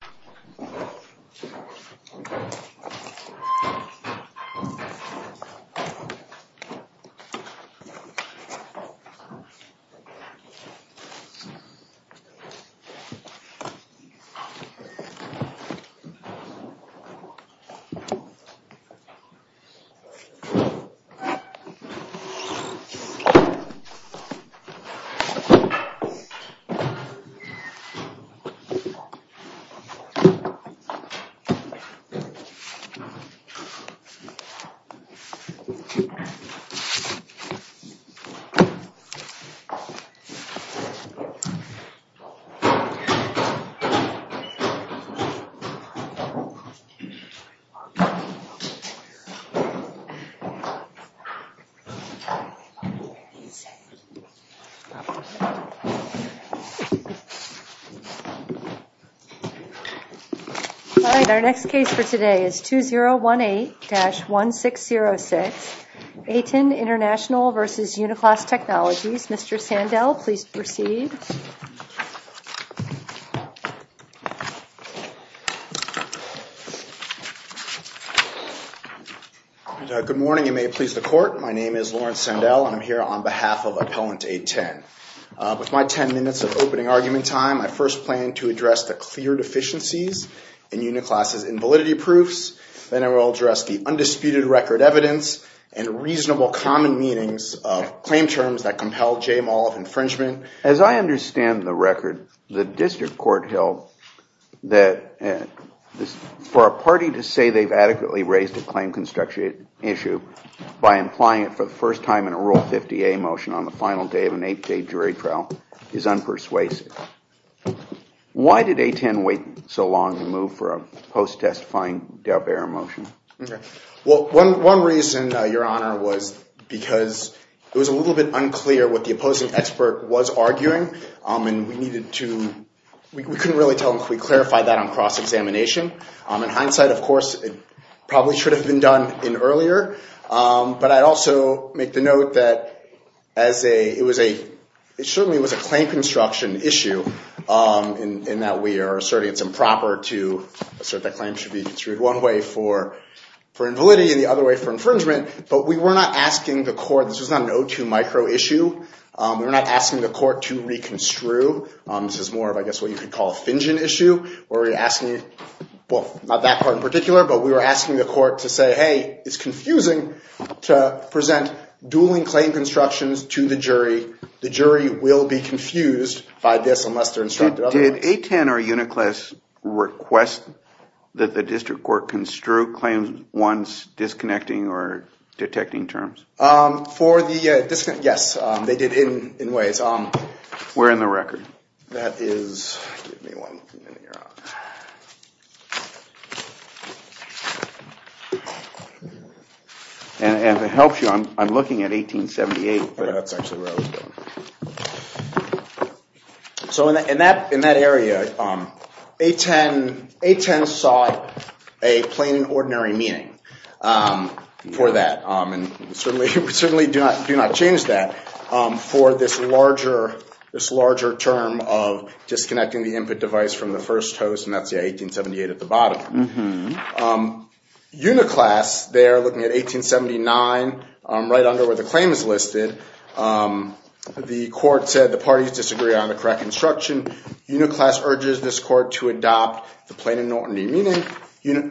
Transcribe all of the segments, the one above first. v. Uniclass Technology Co., Ltd. v. Uniclass Technology Co., Ltd. All right, our next case for today is 2018-1606. ATEN International v. Uniclass Technologies. Mr. Sandell, please proceed. Good morning. You may please the court. My name is Lawrence Sandell, and I'm here on behalf of Appellant 810. With my 10 minutes of opening argument time, I first plan to address the clear deficiencies in Uniclass's invalidity proofs. Then I will address the undisputed record evidence and reasonable common meanings of claim terms that compel j-mal of infringement. As I understand the record, the district court held that for a party to say they've adequately raised a claim construction issue by implying it for the first time in a Rule 50A motion on the final day of an eight-day jury trial is unpersuasive. Why did ATEN wait so long to move for a post-testifying Daubert motion? Well, one reason, Your Honor, was because it was a little bit unclear what the opposing expert was arguing, and we needed to – we couldn't really tell them if we clarified that on cross-examination. In hindsight, of course, it probably should have been done in earlier. But I'd also make the note that as a – it was a – it certainly was a claim construction issue, in that we are asserting it's improper to assert that claims should be construed one way for invalidity and the other way for infringement. But we were not asking the court – this was not an O2 micro issue. We were not asking the court to reconstrue. This is more of, I guess, what you could call a Fingen issue, where we're asking – well, not that court in particular, but we were asking the court to say, hey, it's confusing to present dueling claim constructions to the jury. The jury will be confused by this unless they're instructed otherwise. Did ATEN or UNICLES request that the district court construe claims once disconnecting or detecting terms? For the – yes, they did in ways. Where in the record? That is – give me one minute here. And to help you, I'm looking at 1878. That's actually where I was going. So in that area, ATEN saw a plain and ordinary meeting for that. And we certainly do not change that for this larger term of disconnecting the input device from the first host, and that's, yeah, 1878 at the bottom. UNICLES there, looking at 1879, right under where the claim is listed, the court said the parties disagree on the correct construction. UNICLES urges this court to adopt the plain and ordinary meeting.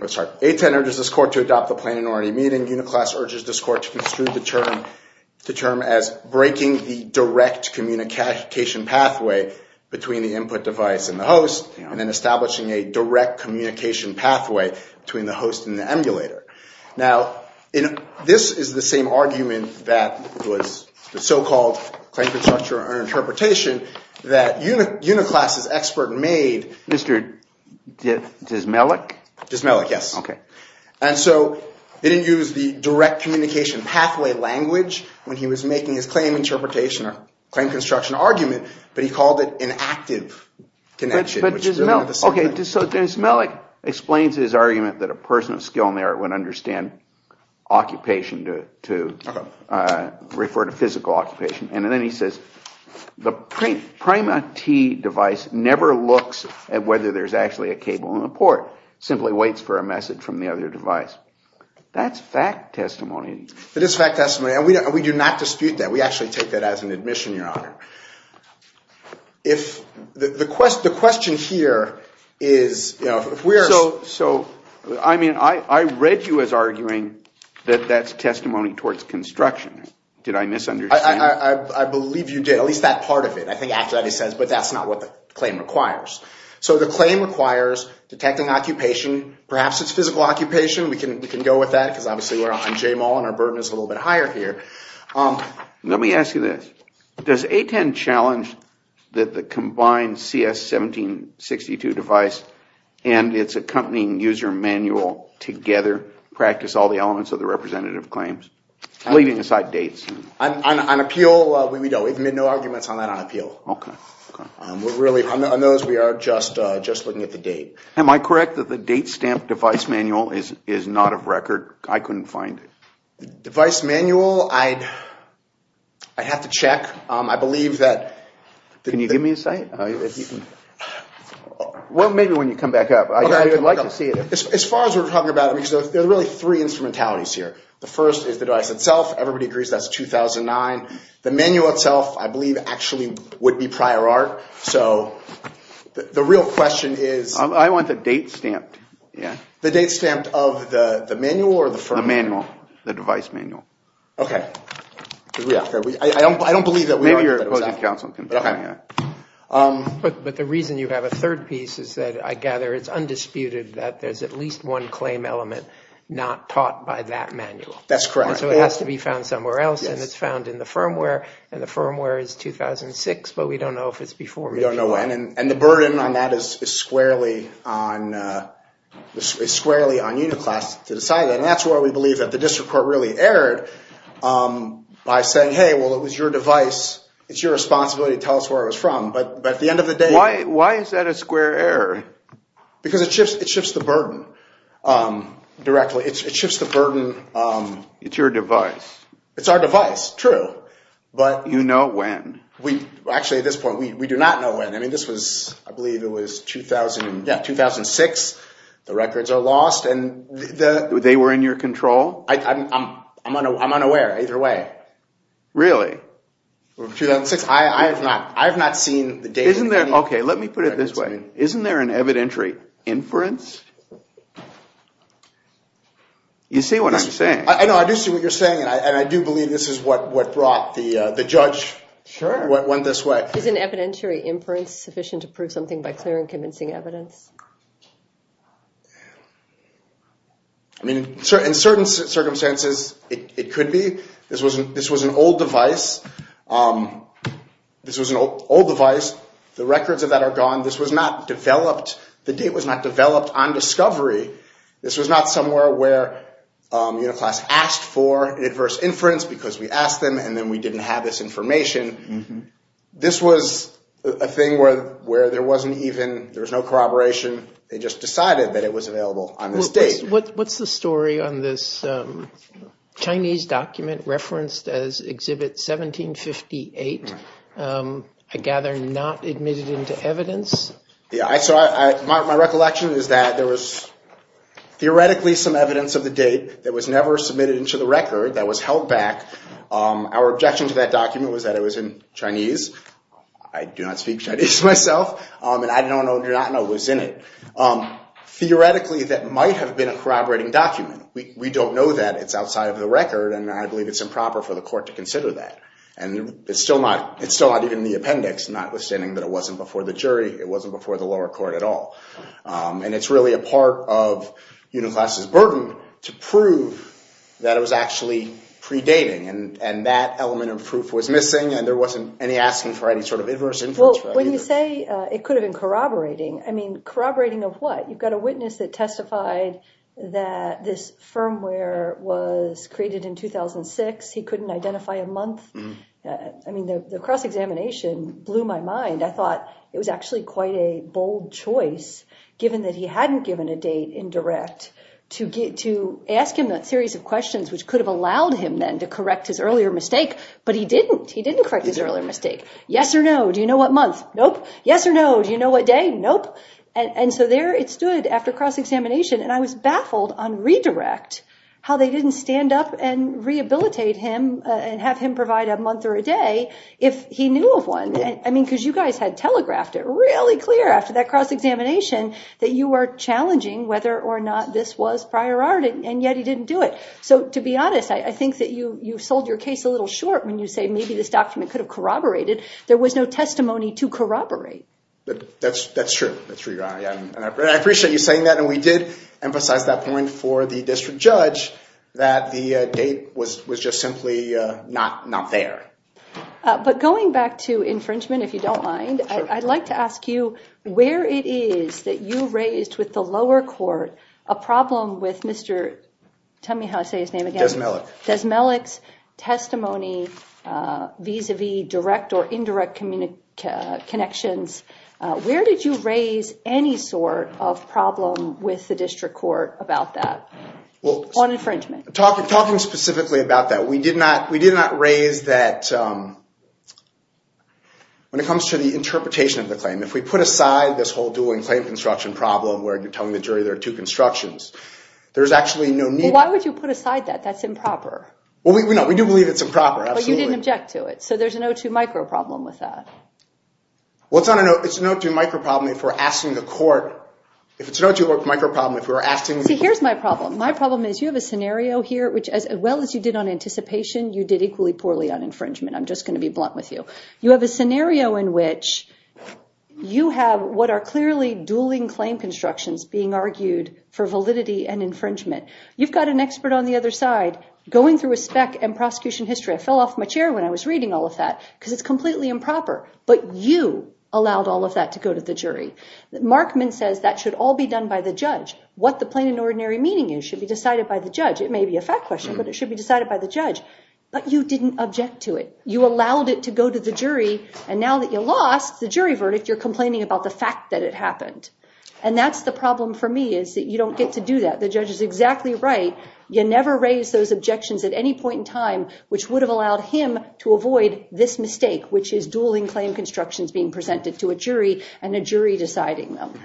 Sorry, ATEN urges this court to adopt the plain and ordinary meeting. UNICLES urges this court to construe the term as breaking the direct communication pathway between the input device and the host and then establishing a direct communication pathway between the host and the emulator. Now, this is the same argument that was the so-called claim construction or interpretation that UNICLES' expert made. Mr. Dismalik? Dismalik, yes. Okay. And so he didn't use the direct communication pathway language when he was making his claim interpretation or claim construction argument, but he called it an active connection. Okay, so Dismalik explains his argument that a person of skill and merit would understand occupation to refer to physical occupation. And then he says the PRIMA-T device never looks at whether there's actually a cable in the port. It simply waits for a message from the other device. That's fact testimony. It is fact testimony, and we do not dispute that. We actually take that as an admission, Your Honor. If the question here is, you know, if we're so – So, I mean, I read you as arguing that that's testimony towards construction. Did I misunderstand? I believe you did, at least that part of it. I think actually he says, but that's not what the claim requires. So the claim requires detecting occupation, perhaps it's physical occupation. We can go with that because obviously we're on J-Mall and our burden is a little bit higher here. Let me ask you this. Does A-10 challenge that the combined CS-1762 device and its accompanying user manual together practice all the elements of the representative claims, leaving aside dates? On appeal, we don't. We've made no arguments on that on appeal. Okay, okay. We're really – on those, we are just looking at the date. Am I correct that the date stamp device manual is not of record? I couldn't find it. The device manual, I'd have to check. I believe that – Can you give me a site? Well, maybe when you come back up. I'd like to see it. As far as we're talking about it, because there are really three instrumentalities here. The first is the device itself. Everybody agrees that's 2009. The manual itself, I believe, actually would be prior art. So the real question is – I want the date stamped. The date stamped of the manual or the firm? The manual, the device manual. Okay. I don't believe that we – Maybe your opposing counsel can tell me that. But the reason you have a third piece is that I gather it's undisputed that there's at least one claim element not taught by that manual. That's correct. So it has to be found somewhere else, and it's found in the firmware. And the firmware is 2006, but we don't know if it's before. We don't know when. And the burden on that is squarely on Uniclass to decide that. And that's why we believe that the district court really erred by saying, hey, well, it was your device. It's your responsibility to tell us where it was from. But at the end of the day – Why is that a square error? Because it shifts the burden directly. It shifts the burden. It's your device. It's our device, true. But – You know when. Actually, at this point, we do not know when. I mean, this was – I believe it was 2006. The records are lost. They were in your control? I'm unaware either way. Really? 2006. I have not seen the date. Okay, let me put it this way. Isn't there an evidentiary inference? You see what I'm saying. I know. I do see what you're saying, and I do believe this is what brought the judge – Sure. What went this way. Is an evidentiary inference sufficient to prove something by clear and convincing evidence? I mean, in certain circumstances, it could be. This was an old device. This was an old device. The records of that are gone. This was not developed – the date was not developed on discovery. This was not somewhere where Uniclass asked for an adverse inference because we asked them, and then we didn't have this information. This was a thing where there wasn't even – there was no corroboration. They just decided that it was available on this date. What's the story on this Chinese document referenced as Exhibit 1758? I gather not admitted into evidence. Yeah, so my recollection is that there was theoretically some evidence of the date that was never submitted into the record that was held back. Our objection to that document was that it was in Chinese. I do not speak Chinese myself, and I do not know what was in it. Theoretically, that might have been a corroborating document. We don't know that. It's outside of the record, and I believe it's improper for the court to consider that. And it's still not even in the appendix, notwithstanding that it wasn't before the jury. It wasn't before the lower court at all. And it's really a part of Uniclass's burden to prove that it was actually predating, and that element of proof was missing, and there wasn't any asking for any sort of adverse inference. Well, when you say it could have been corroborating, I mean corroborating of what? You've got a witness that testified that this firmware was created in 2006. He couldn't identify a month. I mean the cross-examination blew my mind. I thought it was actually quite a bold choice, given that he hadn't given a date in direct, to ask him a series of questions which could have allowed him then to correct his earlier mistake, but he didn't. He didn't correct his earlier mistake. Yes or no, do you know what month? Nope. Yes or no, do you know what day? Nope. And so there it stood after cross-examination, and I was baffled on redirect, how they didn't stand up and rehabilitate him and have him provide a month or a day if he knew of one. I mean because you guys had telegraphed it really clear after that cross-examination that you were challenging whether or not this was prior art, and yet he didn't do it. So to be honest, I think that you sold your case a little short when you say maybe this document could have corroborated. There was no testimony to corroborate. That's true. That's true, Your Honor. I appreciate you saying that, and we did emphasize that point for the district judge that the date was just simply not there. But going back to infringement, if you don't mind, I'd like to ask you where it is that you raised with the lower court a problem with Mr. – tell me how to say his name again. Desmelek. Desmelek's testimony vis-à-vis direct or indirect connections. Where did you raise any sort of problem with the district court about that on infringement? Talking specifically about that, we did not raise that when it comes to the interpretation of the claim. If we put aside this whole dueling claim construction problem where you're telling the jury there are two constructions, there's actually no need. Why would you put aside that? That's improper. Well, no, we do believe it's improper, absolutely. But you didn't object to it, so there's an O2 micro problem with that. Well, it's an O2 micro problem if we're asking the court – if it's an O2 micro problem if we're asking – See, here's my problem. My problem is you have a scenario here which, as well as you did on anticipation, you did equally poorly on infringement. I'm just going to be blunt with you. You have a scenario in which you have what are clearly dueling claim constructions being argued for validity and infringement. You've got an expert on the other side going through a spec and prosecution history. I fell off my chair when I was reading all of that because it's completely improper. But you allowed all of that to go to the jury. Markman says that should all be done by the judge. What the plain and ordinary meaning is should be decided by the judge. It may be a fact question, but it should be decided by the judge. But you didn't object to it. You allowed it to go to the jury, and now that you lost the jury verdict, you're complaining about the fact that it happened. And that's the problem for me is that you don't get to do that. The judge is exactly right. You never raise those objections at any point in time, which would have allowed him to avoid this mistake, which is dueling claim constructions being presented to a jury and a jury deciding them.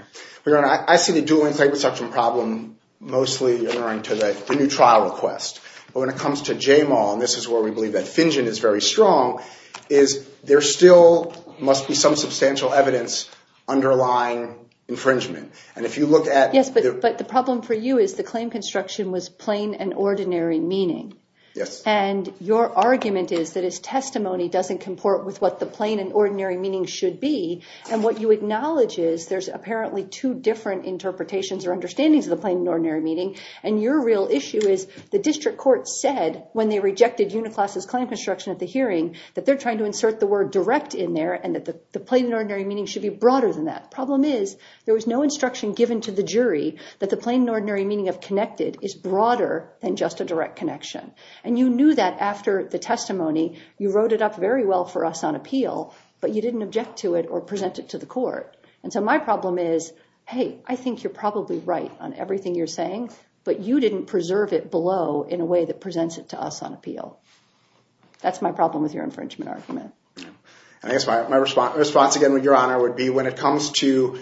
Your Honor, I see the dueling claim construction problem mostly in the new trial request. But when it comes to JMAW, and this is where we believe that Finjen is very strong, is there still must be some substantial evidence underlying infringement. Yes, but the problem for you is the claim construction was plain and ordinary meaning. And your argument is that his testimony doesn't comport with what the plain and ordinary meaning should be. And what you acknowledge is there's apparently two different interpretations or understandings of the plain and ordinary meaning. And your real issue is the district court said when they rejected Uniclass' claim construction at the hearing that they're trying to insert the word direct in there and that the plain and ordinary meaning should be broader than that. Problem is there was no instruction given to the jury that the plain and ordinary meaning of connected is broader than just a direct connection. And you knew that after the testimony, you wrote it up very well for us on appeal, but you didn't object to it or present it to the court. And so my problem is, hey, I think you're probably right on everything you're saying, but you didn't preserve it below in a way that presents it to us on appeal. That's my problem with your infringement argument. I guess my response again, Your Honor, would be when it comes to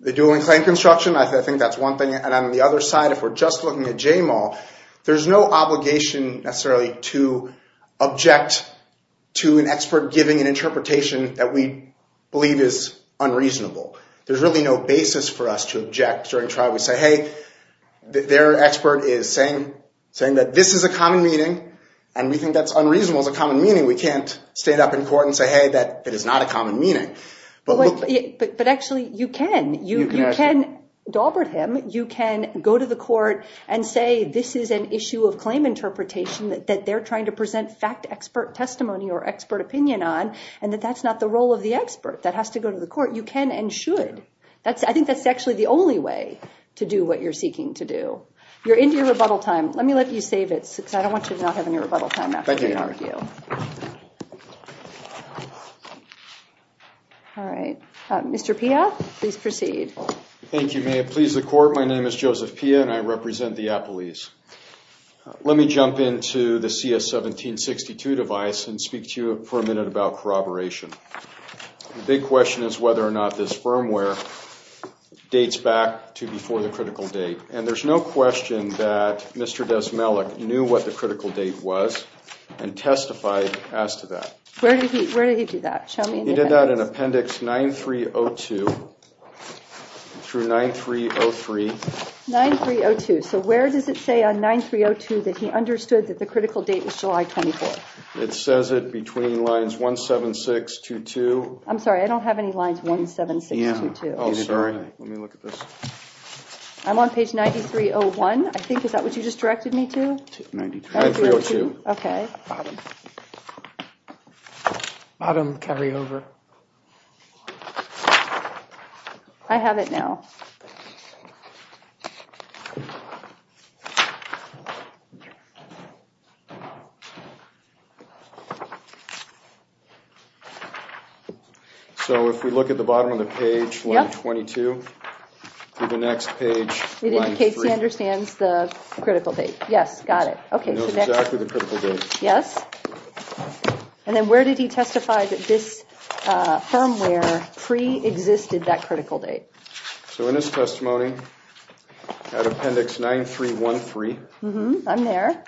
the dual and plain construction, I think that's one thing. And on the other side, if we're just looking at J-Mall, there's no obligation necessarily to object to an expert giving an interpretation that we believe is unreasonable. There's really no basis for us to object during trial. We say, hey, their expert is saying that this is a common meaning and we think that's unreasonable is a common meaning. We can't stand up in court and say, hey, that is not a common meaning. But actually, you can. You can go to the court and say this is an issue of claim interpretation that they're trying to present fact expert testimony or expert opinion on, and that that's not the role of the expert. That has to go to the court. You can and should. I think that's actually the only way to do what you're seeking to do. You're into your rebuttal time. Let me let you save it, because I don't want you to not have any rebuttal time after we argue. All right. Mr. Pia, please proceed. Thank you, ma'am. Please the court. My name is Joseph Pia, and I represent the Appalese. Let me jump into the CS1762 device and speak to you for a minute about corroboration. The big question is whether or not this firmware dates back to before the critical date. And there's no question that Mr. Desmelech knew what the critical date was and testified as to that. Where did he do that? He did that in Appendix 9302 through 9303. 9302. So where does it say on 9302 that he understood that the critical date was July 24th? It says it between lines 17622. I'm sorry. I don't have any lines 17622. Oh, sorry. Let me look at this. I'm on page 9301, I think. Is that what you just directed me to? 9302. Okay. Bottom carryover. I have it now. Okay. So if we look at the bottom of the page, line 22, through the next page, line 3. It indicates he understands the critical date. Yes, got it. He knows exactly the critical date. Yes. And then where did he testify that this firmware preexisted that critical date? So in his testimony, at Appendix 9313. I'm there.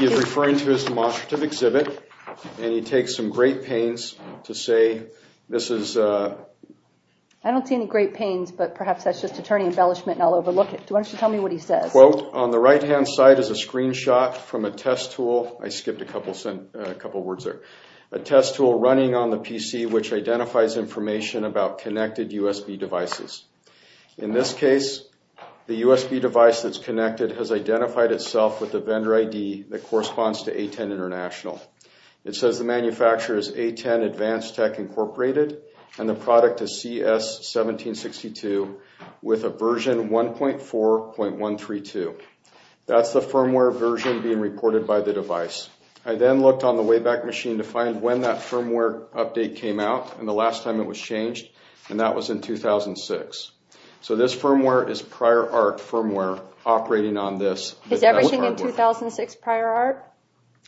He's referring to his demonstrative exhibit, and he takes some great pains to say this is... I don't see any great pains, but perhaps that's just attorney embellishment and I'll overlook it. Why don't you tell me what he says? Quote, on the right-hand side is a screenshot from a test tool. I skipped a couple words there. A test tool running on the PC, which identifies information about connected USB devices. In this case, the USB device that's connected has identified itself with the vendor ID that corresponds to A10 International. It says the manufacturer is A10 Advanced Tech Incorporated, and the product is CS1762 with a version 1.4.132. That's the firmware version being reported by the device. I then looked on the Wayback Machine to find when that firmware update came out, and the last time it was changed, and that was in 2006. So this firmware is prior art firmware operating on this. Is everything in 2006 prior art?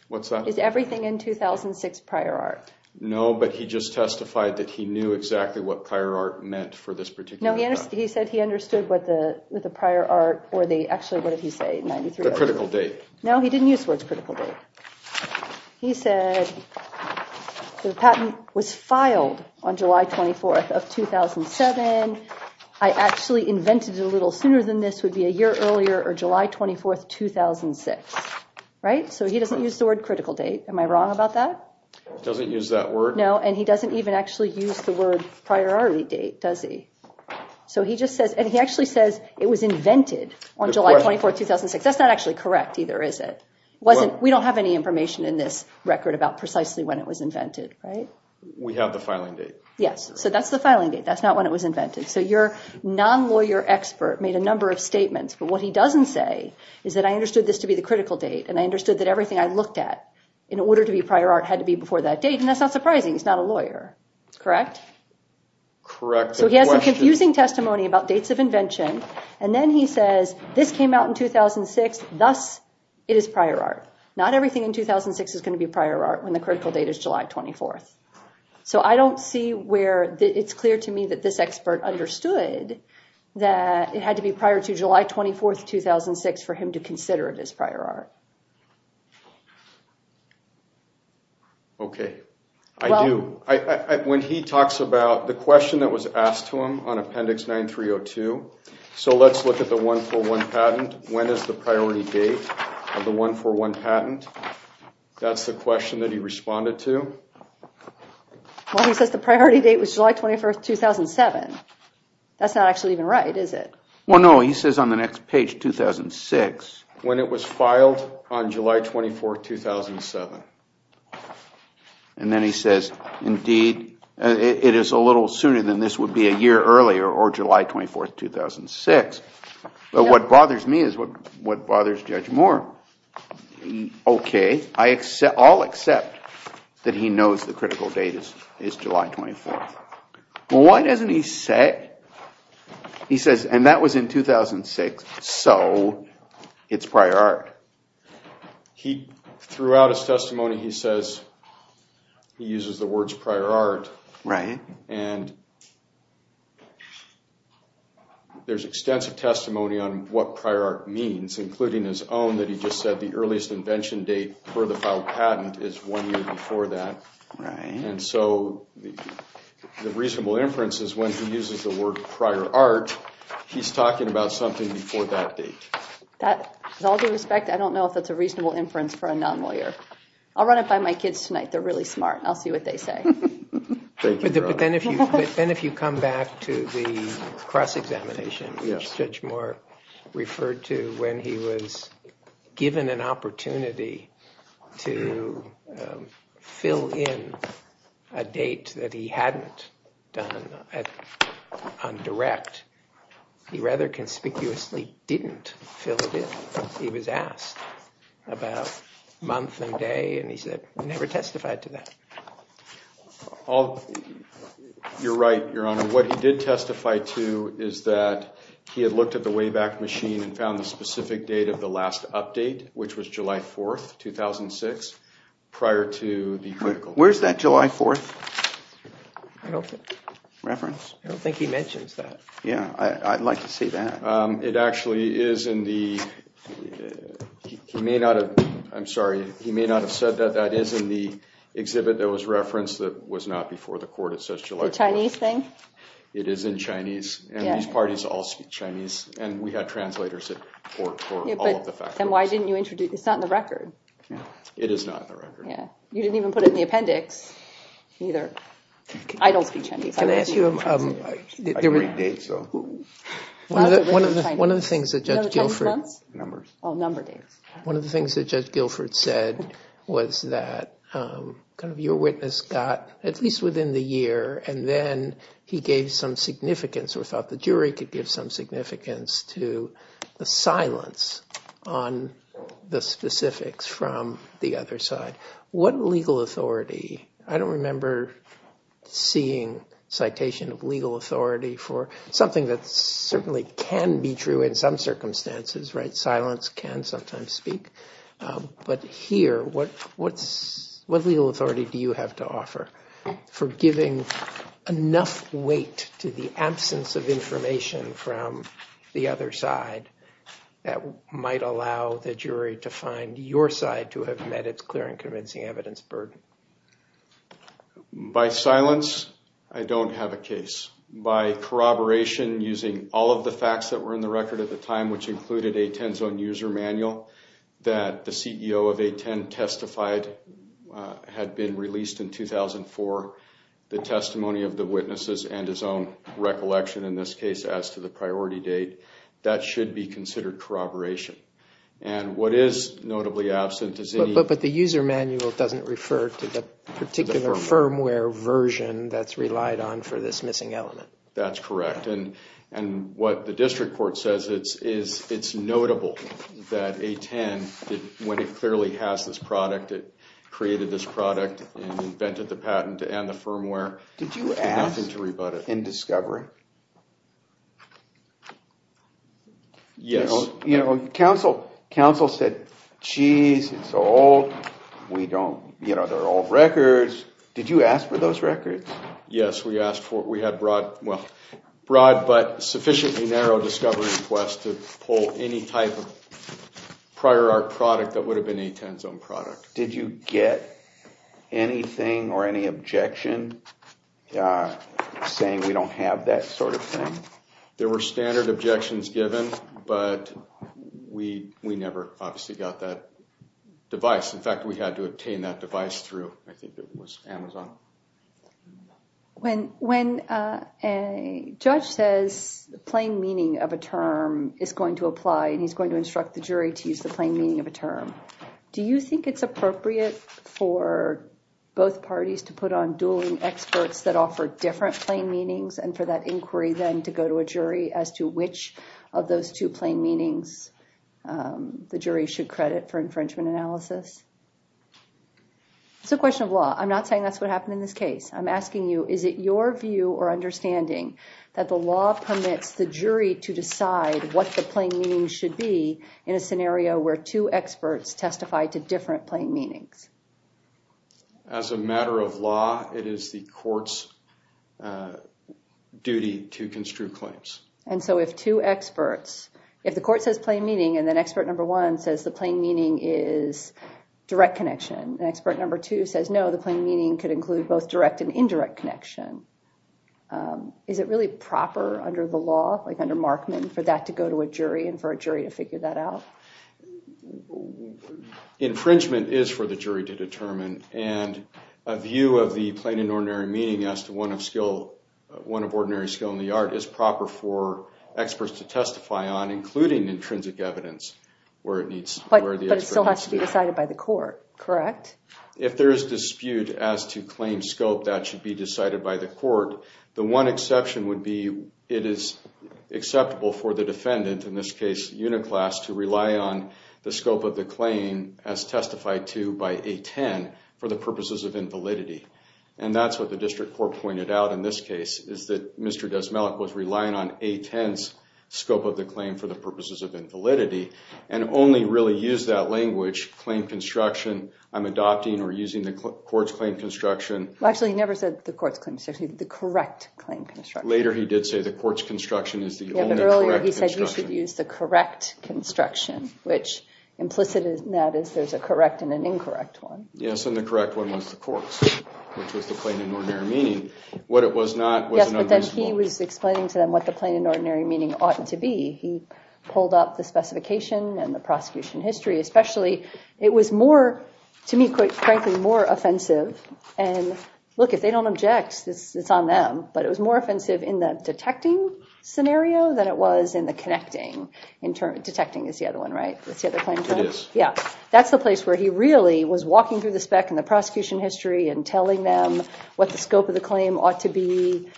What's that? Is everything in 2006 prior art? No, but he just testified that he knew exactly what prior art meant for this particular product. No, he said he understood what the prior art or the, actually, what did he say? The critical date. No, he didn't use the words critical date. He said the patent was filed on July 24th of 2007. I actually invented it a little sooner than this would be a year earlier, or July 24th, 2006. Right? So he doesn't use the word critical date. Am I wrong about that? He doesn't use that word? No, and he doesn't even actually use the word priority date, does he? That's not actually correct either, is it? We don't have any information in this record about precisely when it was invented, right? We have the filing date. Yes, so that's the filing date. That's not when it was invented. So your non-lawyer expert made a number of statements, but what he doesn't say is that I understood this to be the critical date, and I understood that everything I looked at in order to be prior art had to be before that date, and that's not surprising. He's not a lawyer. Correct? Correct. So he has a confusing testimony about dates of invention, and then he says this came out in 2006, thus it is prior art. Not everything in 2006 is going to be prior art when the critical date is July 24th. So I don't see where it's clear to me that this expert understood that it had to be prior to July 24th, 2006, for him to consider it as prior art. Okay, I do. When he talks about the question that was asked to him on Appendix 9302, so let's look at the 141 patent. When is the priority date of the 141 patent? That's the question that he responded to. Well, he says the priority date was July 21st, 2007. That's not actually even right, is it? Well, no, he says on the next page, 2006, when it was filed on July 24th, 2007. And then he says, indeed, it is a little sooner than this would be a year earlier, or July 24th, 2006. But what bothers me is what bothers Judge Moore. Okay, I'll accept that he knows the critical date is July 24th. Well, why doesn't he say, he says, and that was in 2006, so it's prior art. Throughout his testimony, he says he uses the words prior art. Right. And there's extensive testimony on what prior art means, including his own that he just said the earliest invention date for the filed patent is one year before that. Right. And so the reasonable inference is when he uses the word prior art, he's talking about something before that date. With all due respect, I don't know if that's a reasonable inference for a non-lawyer. I'll run it by my kids tonight. They're really smart, and I'll see what they say. But then if you come back to the cross-examination, which Judge Moore referred to when he was given an opportunity to fill in a date that he hadn't done on direct, he rather conspicuously didn't fill it in. He was asked about month and day, and he said he never testified to that. You're right, Your Honor. What he did testify to is that he had looked at the Wayback Machine and found the specific date of the last update, which was July 4th, 2006, prior to the critical. Where's that July 4th reference? I don't think he mentions that. Yeah. I'd like to see that. It actually is in the—he may not have—I'm sorry. He may not have said that. That is in the exhibit that was referenced that was not before the court. It says July 4th. The Chinese thing? It is in Chinese, and these parties all speak Chinese, and we had translators for all of the factors. Then why didn't you introduce—it's not in the record. It is not in the record. Yeah. You didn't even put it in the appendix, either. I don't speak Chinese. Can I ask you— I read dates, though. One of the things that Judge Gilford— No, the Chinese months? Numbers. Oh, number dates. One of the things that Judge Gilford said was that your witness got, at least within the year, and then he gave some significance or thought the jury could give some significance to the silence on the specifics from the other side. What legal authority—I don't remember seeing citation of legal authority for something that certainly can be true in some circumstances, right? Silence can sometimes speak. But here, what legal authority do you have to offer for giving enough weight to the absence of information from the other side that might allow the jury to find your side to have met its clear and convincing evidence burden? By silence, I don't have a case. By corroboration using all of the facts that were in the record at the time, which included a 10-zone user manual that the CEO of A10 testified had been released in 2004, the testimony of the witnesses, and his own recollection, in this case, as to the priority date, that should be considered corroboration. And what is notably absent is— But the user manual doesn't refer to the particular firmware version that's relied on for this missing element. That's correct. And what the district court says is it's notable that A10, when it clearly has this product, it created this product and invented the patent and the firmware, did nothing to rebut it. Did you ask in discovery? Yes. You know, counsel said, geez, it's so old. We don't—you know, they're old records. Did you ask for those records? Yes, we asked for—we had broad, but sufficiently narrow discovery requests to pull any type of prior art product that would have been a 10-zone product. Did you get anything or any objection saying we don't have that sort of thing? There were standard objections given, but we never obviously got that device. In fact, we had to obtain that device through, I think it was, Amazon. When a judge says the plain meaning of a term is going to apply and he's going to instruct the jury to use the plain meaning of a term, do you think it's appropriate for both parties to put on dueling experts that offer different plain meanings and for that inquiry then to go to a jury as to which of those two plain meanings the jury should credit for infringement analysis? It's a question of law. I'm not saying that's what happened in this case. I'm asking you, is it your view or understanding that the law permits the jury to decide what the plain meaning should be in a scenario where two experts testify to different plain meanings? As a matter of law, it is the court's duty to construe claims. And so if two experts, if the court says plain meaning and then expert number one says the plain meaning is direct connection and expert number two says no, the plain meaning could include both direct and indirect connection, is it really proper under the law, like under Markman, for that to go to a jury and for a jury to figure that out? Infringement is for the jury to determine, and a view of the plain and ordinary meaning as to one of ordinary skill in the art is proper for experts to testify on, including intrinsic evidence where the expert needs to be. But it still has to be decided by the court, correct? If there is dispute as to claim scope, that should be decided by the court. The one exception would be it is acceptable for the defendant, in this case Uniclass, to rely on the scope of the claim as testified to by A-10 for the purposes of invalidity. And that's what the district court pointed out in this case, is that Mr. Desmelech was relying on A-10's scope of the claim for the purposes of invalidity and only really used that language, claim construction, I'm adopting or using the court's claim construction. Actually, he never said the court's claim construction, the correct claim construction. No, he said you should use the correct construction, which implicit in that is there's a correct and an incorrect one. Yes, and the correct one was the court's, which was the plain and ordinary meaning. What it was not was an unreasonable one. Yes, but then he was explaining to them what the plain and ordinary meaning ought to be. He pulled up the specification and the prosecution history. Especially, it was more, to me quite frankly, more offensive. And look, if they don't object, it's on them. But it was more offensive in the detecting scenario than it was in the connecting. Detecting is the other one, right? It is. That's the place where he really was walking through the spec and the prosecution history and telling them what the scope of the claim ought to be.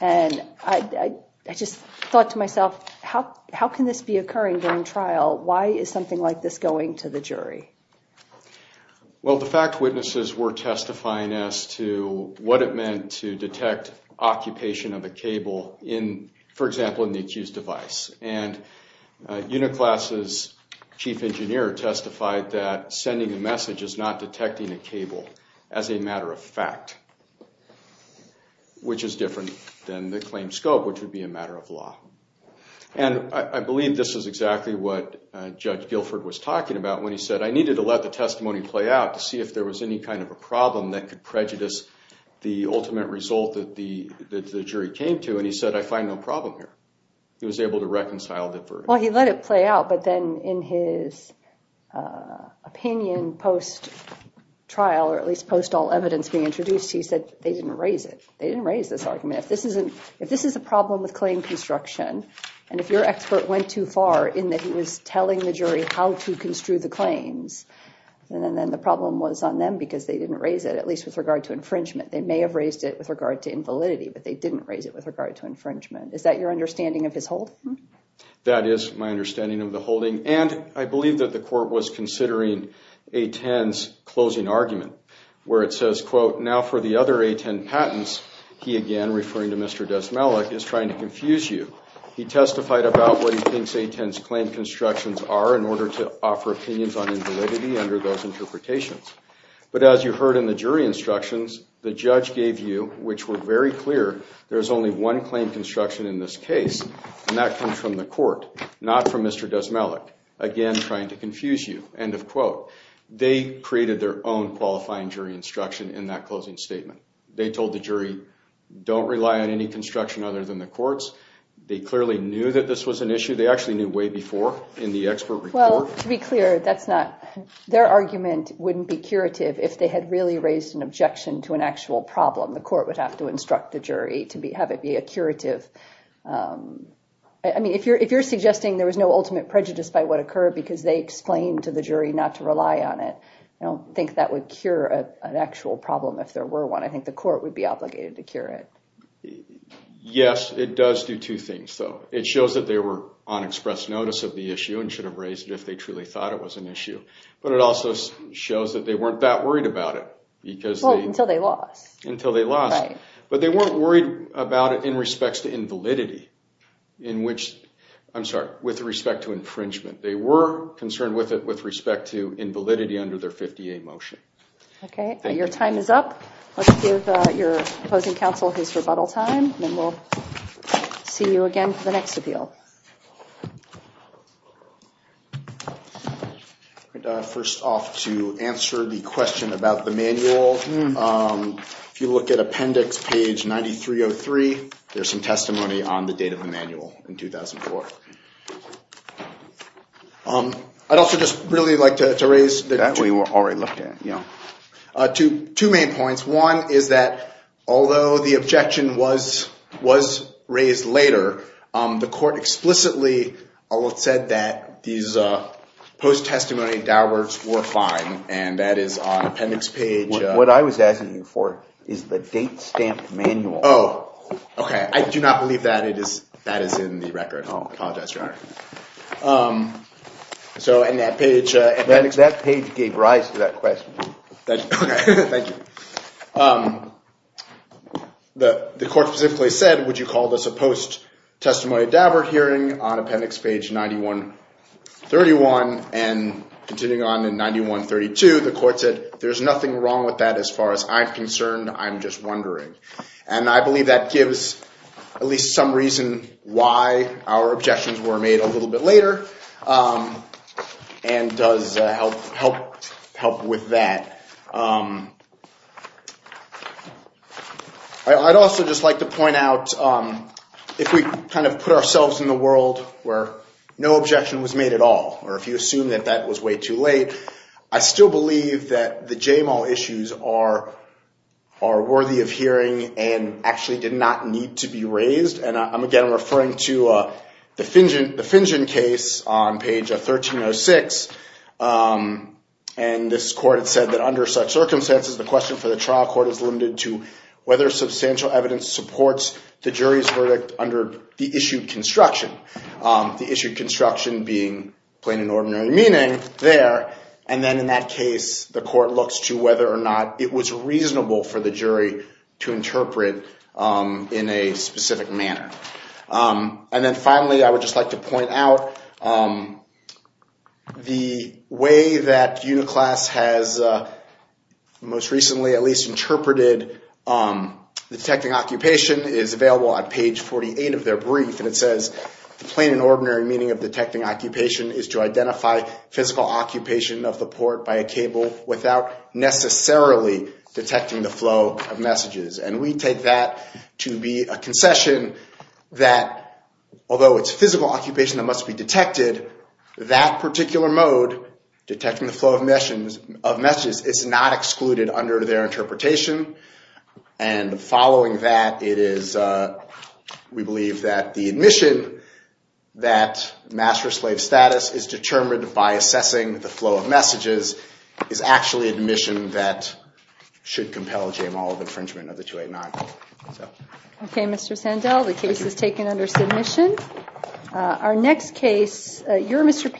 And I just thought to myself, how can this be occurring during trial? Why is something like this going to the jury? Well, the fact witnesses were testifying as to what it meant to detect occupation of a cable, for example, in the accused device. And Uniclass's chief engineer testified that sending a message is not detecting a cable as a matter of fact, which is different than the claim scope, which would be a matter of law. And I believe this is exactly what Judge Guilford was talking about when he said, I needed to let the testimony play out to see if there was any kind of a problem that could prejudice the ultimate result that the jury came to. And he said, I find no problem here. He was able to reconcile the verdict. Well, he let it play out, but then in his opinion post-trial, or at least post all evidence being introduced, he said they didn't raise it. They didn't raise this argument. If this is a problem with claim construction, and if your expert went too far in that he was telling the jury how to construe the claims, and then the problem was on them because they didn't raise it, at least with regard to infringement. They may have raised it with regard to invalidity, but they didn't raise it with regard to infringement. Is that your understanding of his holding? That is my understanding of the holding. And I believe that the court was considering A-10's closing argument where it says, quote, now for the other A-10 patents, he again, referring to Mr. Desmelech, is trying to confuse you. He testified about what he thinks A-10's claim constructions are in order to offer opinions on invalidity under those interpretations. But as you heard in the jury instructions, the judge gave you, which were very clear, there's only one claim construction in this case, and that comes from the court, not from Mr. Desmelech, again trying to confuse you, end of quote. They created their own qualifying jury instruction in that closing statement. They told the jury, don't rely on any construction other than the court's. They clearly knew that this was an issue. They actually knew way before in the expert report. Well, to be clear, that's not, their argument wouldn't be curative if they had really raised an objection to an actual problem. The court would have to instruct the jury to have it be a curative, I mean, if you're suggesting there was no ultimate prejudice by what occurred because they explained to the jury not to rely on it, I don't think that would cure an actual problem if there were one. I think the court would be obligated to cure it. Yes, it does do two things, though. It shows that they were on express notice of the issue and should have raised it if they truly thought it was an issue. But it also shows that they weren't that worried about it. Well, until they lost. Until they lost. But they weren't worried about it in respects to invalidity, in which, I'm sorry, with respect to infringement. They were concerned with it with respect to invalidity under their 50A motion. Okay. Your time is up. Let's give your opposing counsel his rebuttal time, and then we'll see you again for the next appeal. First off, to answer the question about the manual, if you look at appendix page 9303, there's some testimony on the date of the manual in 2004. I'd also just really like to raise the two main points. One is that although the objection was raised later, the court explicitly said that these post-testimony were fine, and that is on appendix page. What I was asking you for is the date stamp manual. Oh, okay. I do not believe that is in the record. I apologize, Your Honor. So in that page. That page gave rise to that question. Okay. Thank you. The court specifically said, would you call this a post-testimony Daubert hearing on appendix page 9131? And continuing on in 9132, the court said, there's nothing wrong with that as far as I'm concerned. I'm just wondering. And I believe that gives at least some reason why our objections were made a little bit later and does help with that. I'd also just like to point out, if we kind of put ourselves in the world where no objection was made at all, or if you assume that that was way too late, I still believe that the JMAL issues are worthy of hearing and actually did not need to be raised. And, again, I'm referring to the Fingen case on page 1306. And this court had said that under such circumstances, the question for the trial court is limited to whether substantial evidence supports the jury's verdict under the issued construction. The issued construction being plain and ordinary meaning there. And then in that case, the court looks to whether or not it was reasonable for the jury to interpret in a specific manner. And then finally, I would just like to point out, the way that Uniclass has most recently at least interpreted the detecting occupation is available on page 48 of their brief. And it says, plain and ordinary meaning of detecting occupation is to identify physical occupation of the port by a cable without necessarily detecting the flow of messages. And we take that to be a concession that, although it's physical occupation that must be detected, that particular mode, detecting the flow of messages, is not excluded under their interpretation. And following that, it is, we believe, that the admission that master-slave status is determined by assessing the flow of messages is actually admission that should compel a jamal of infringement of the 289. Okay, Mr. Sandell, the case is taken under submission. Our next case, your Mr.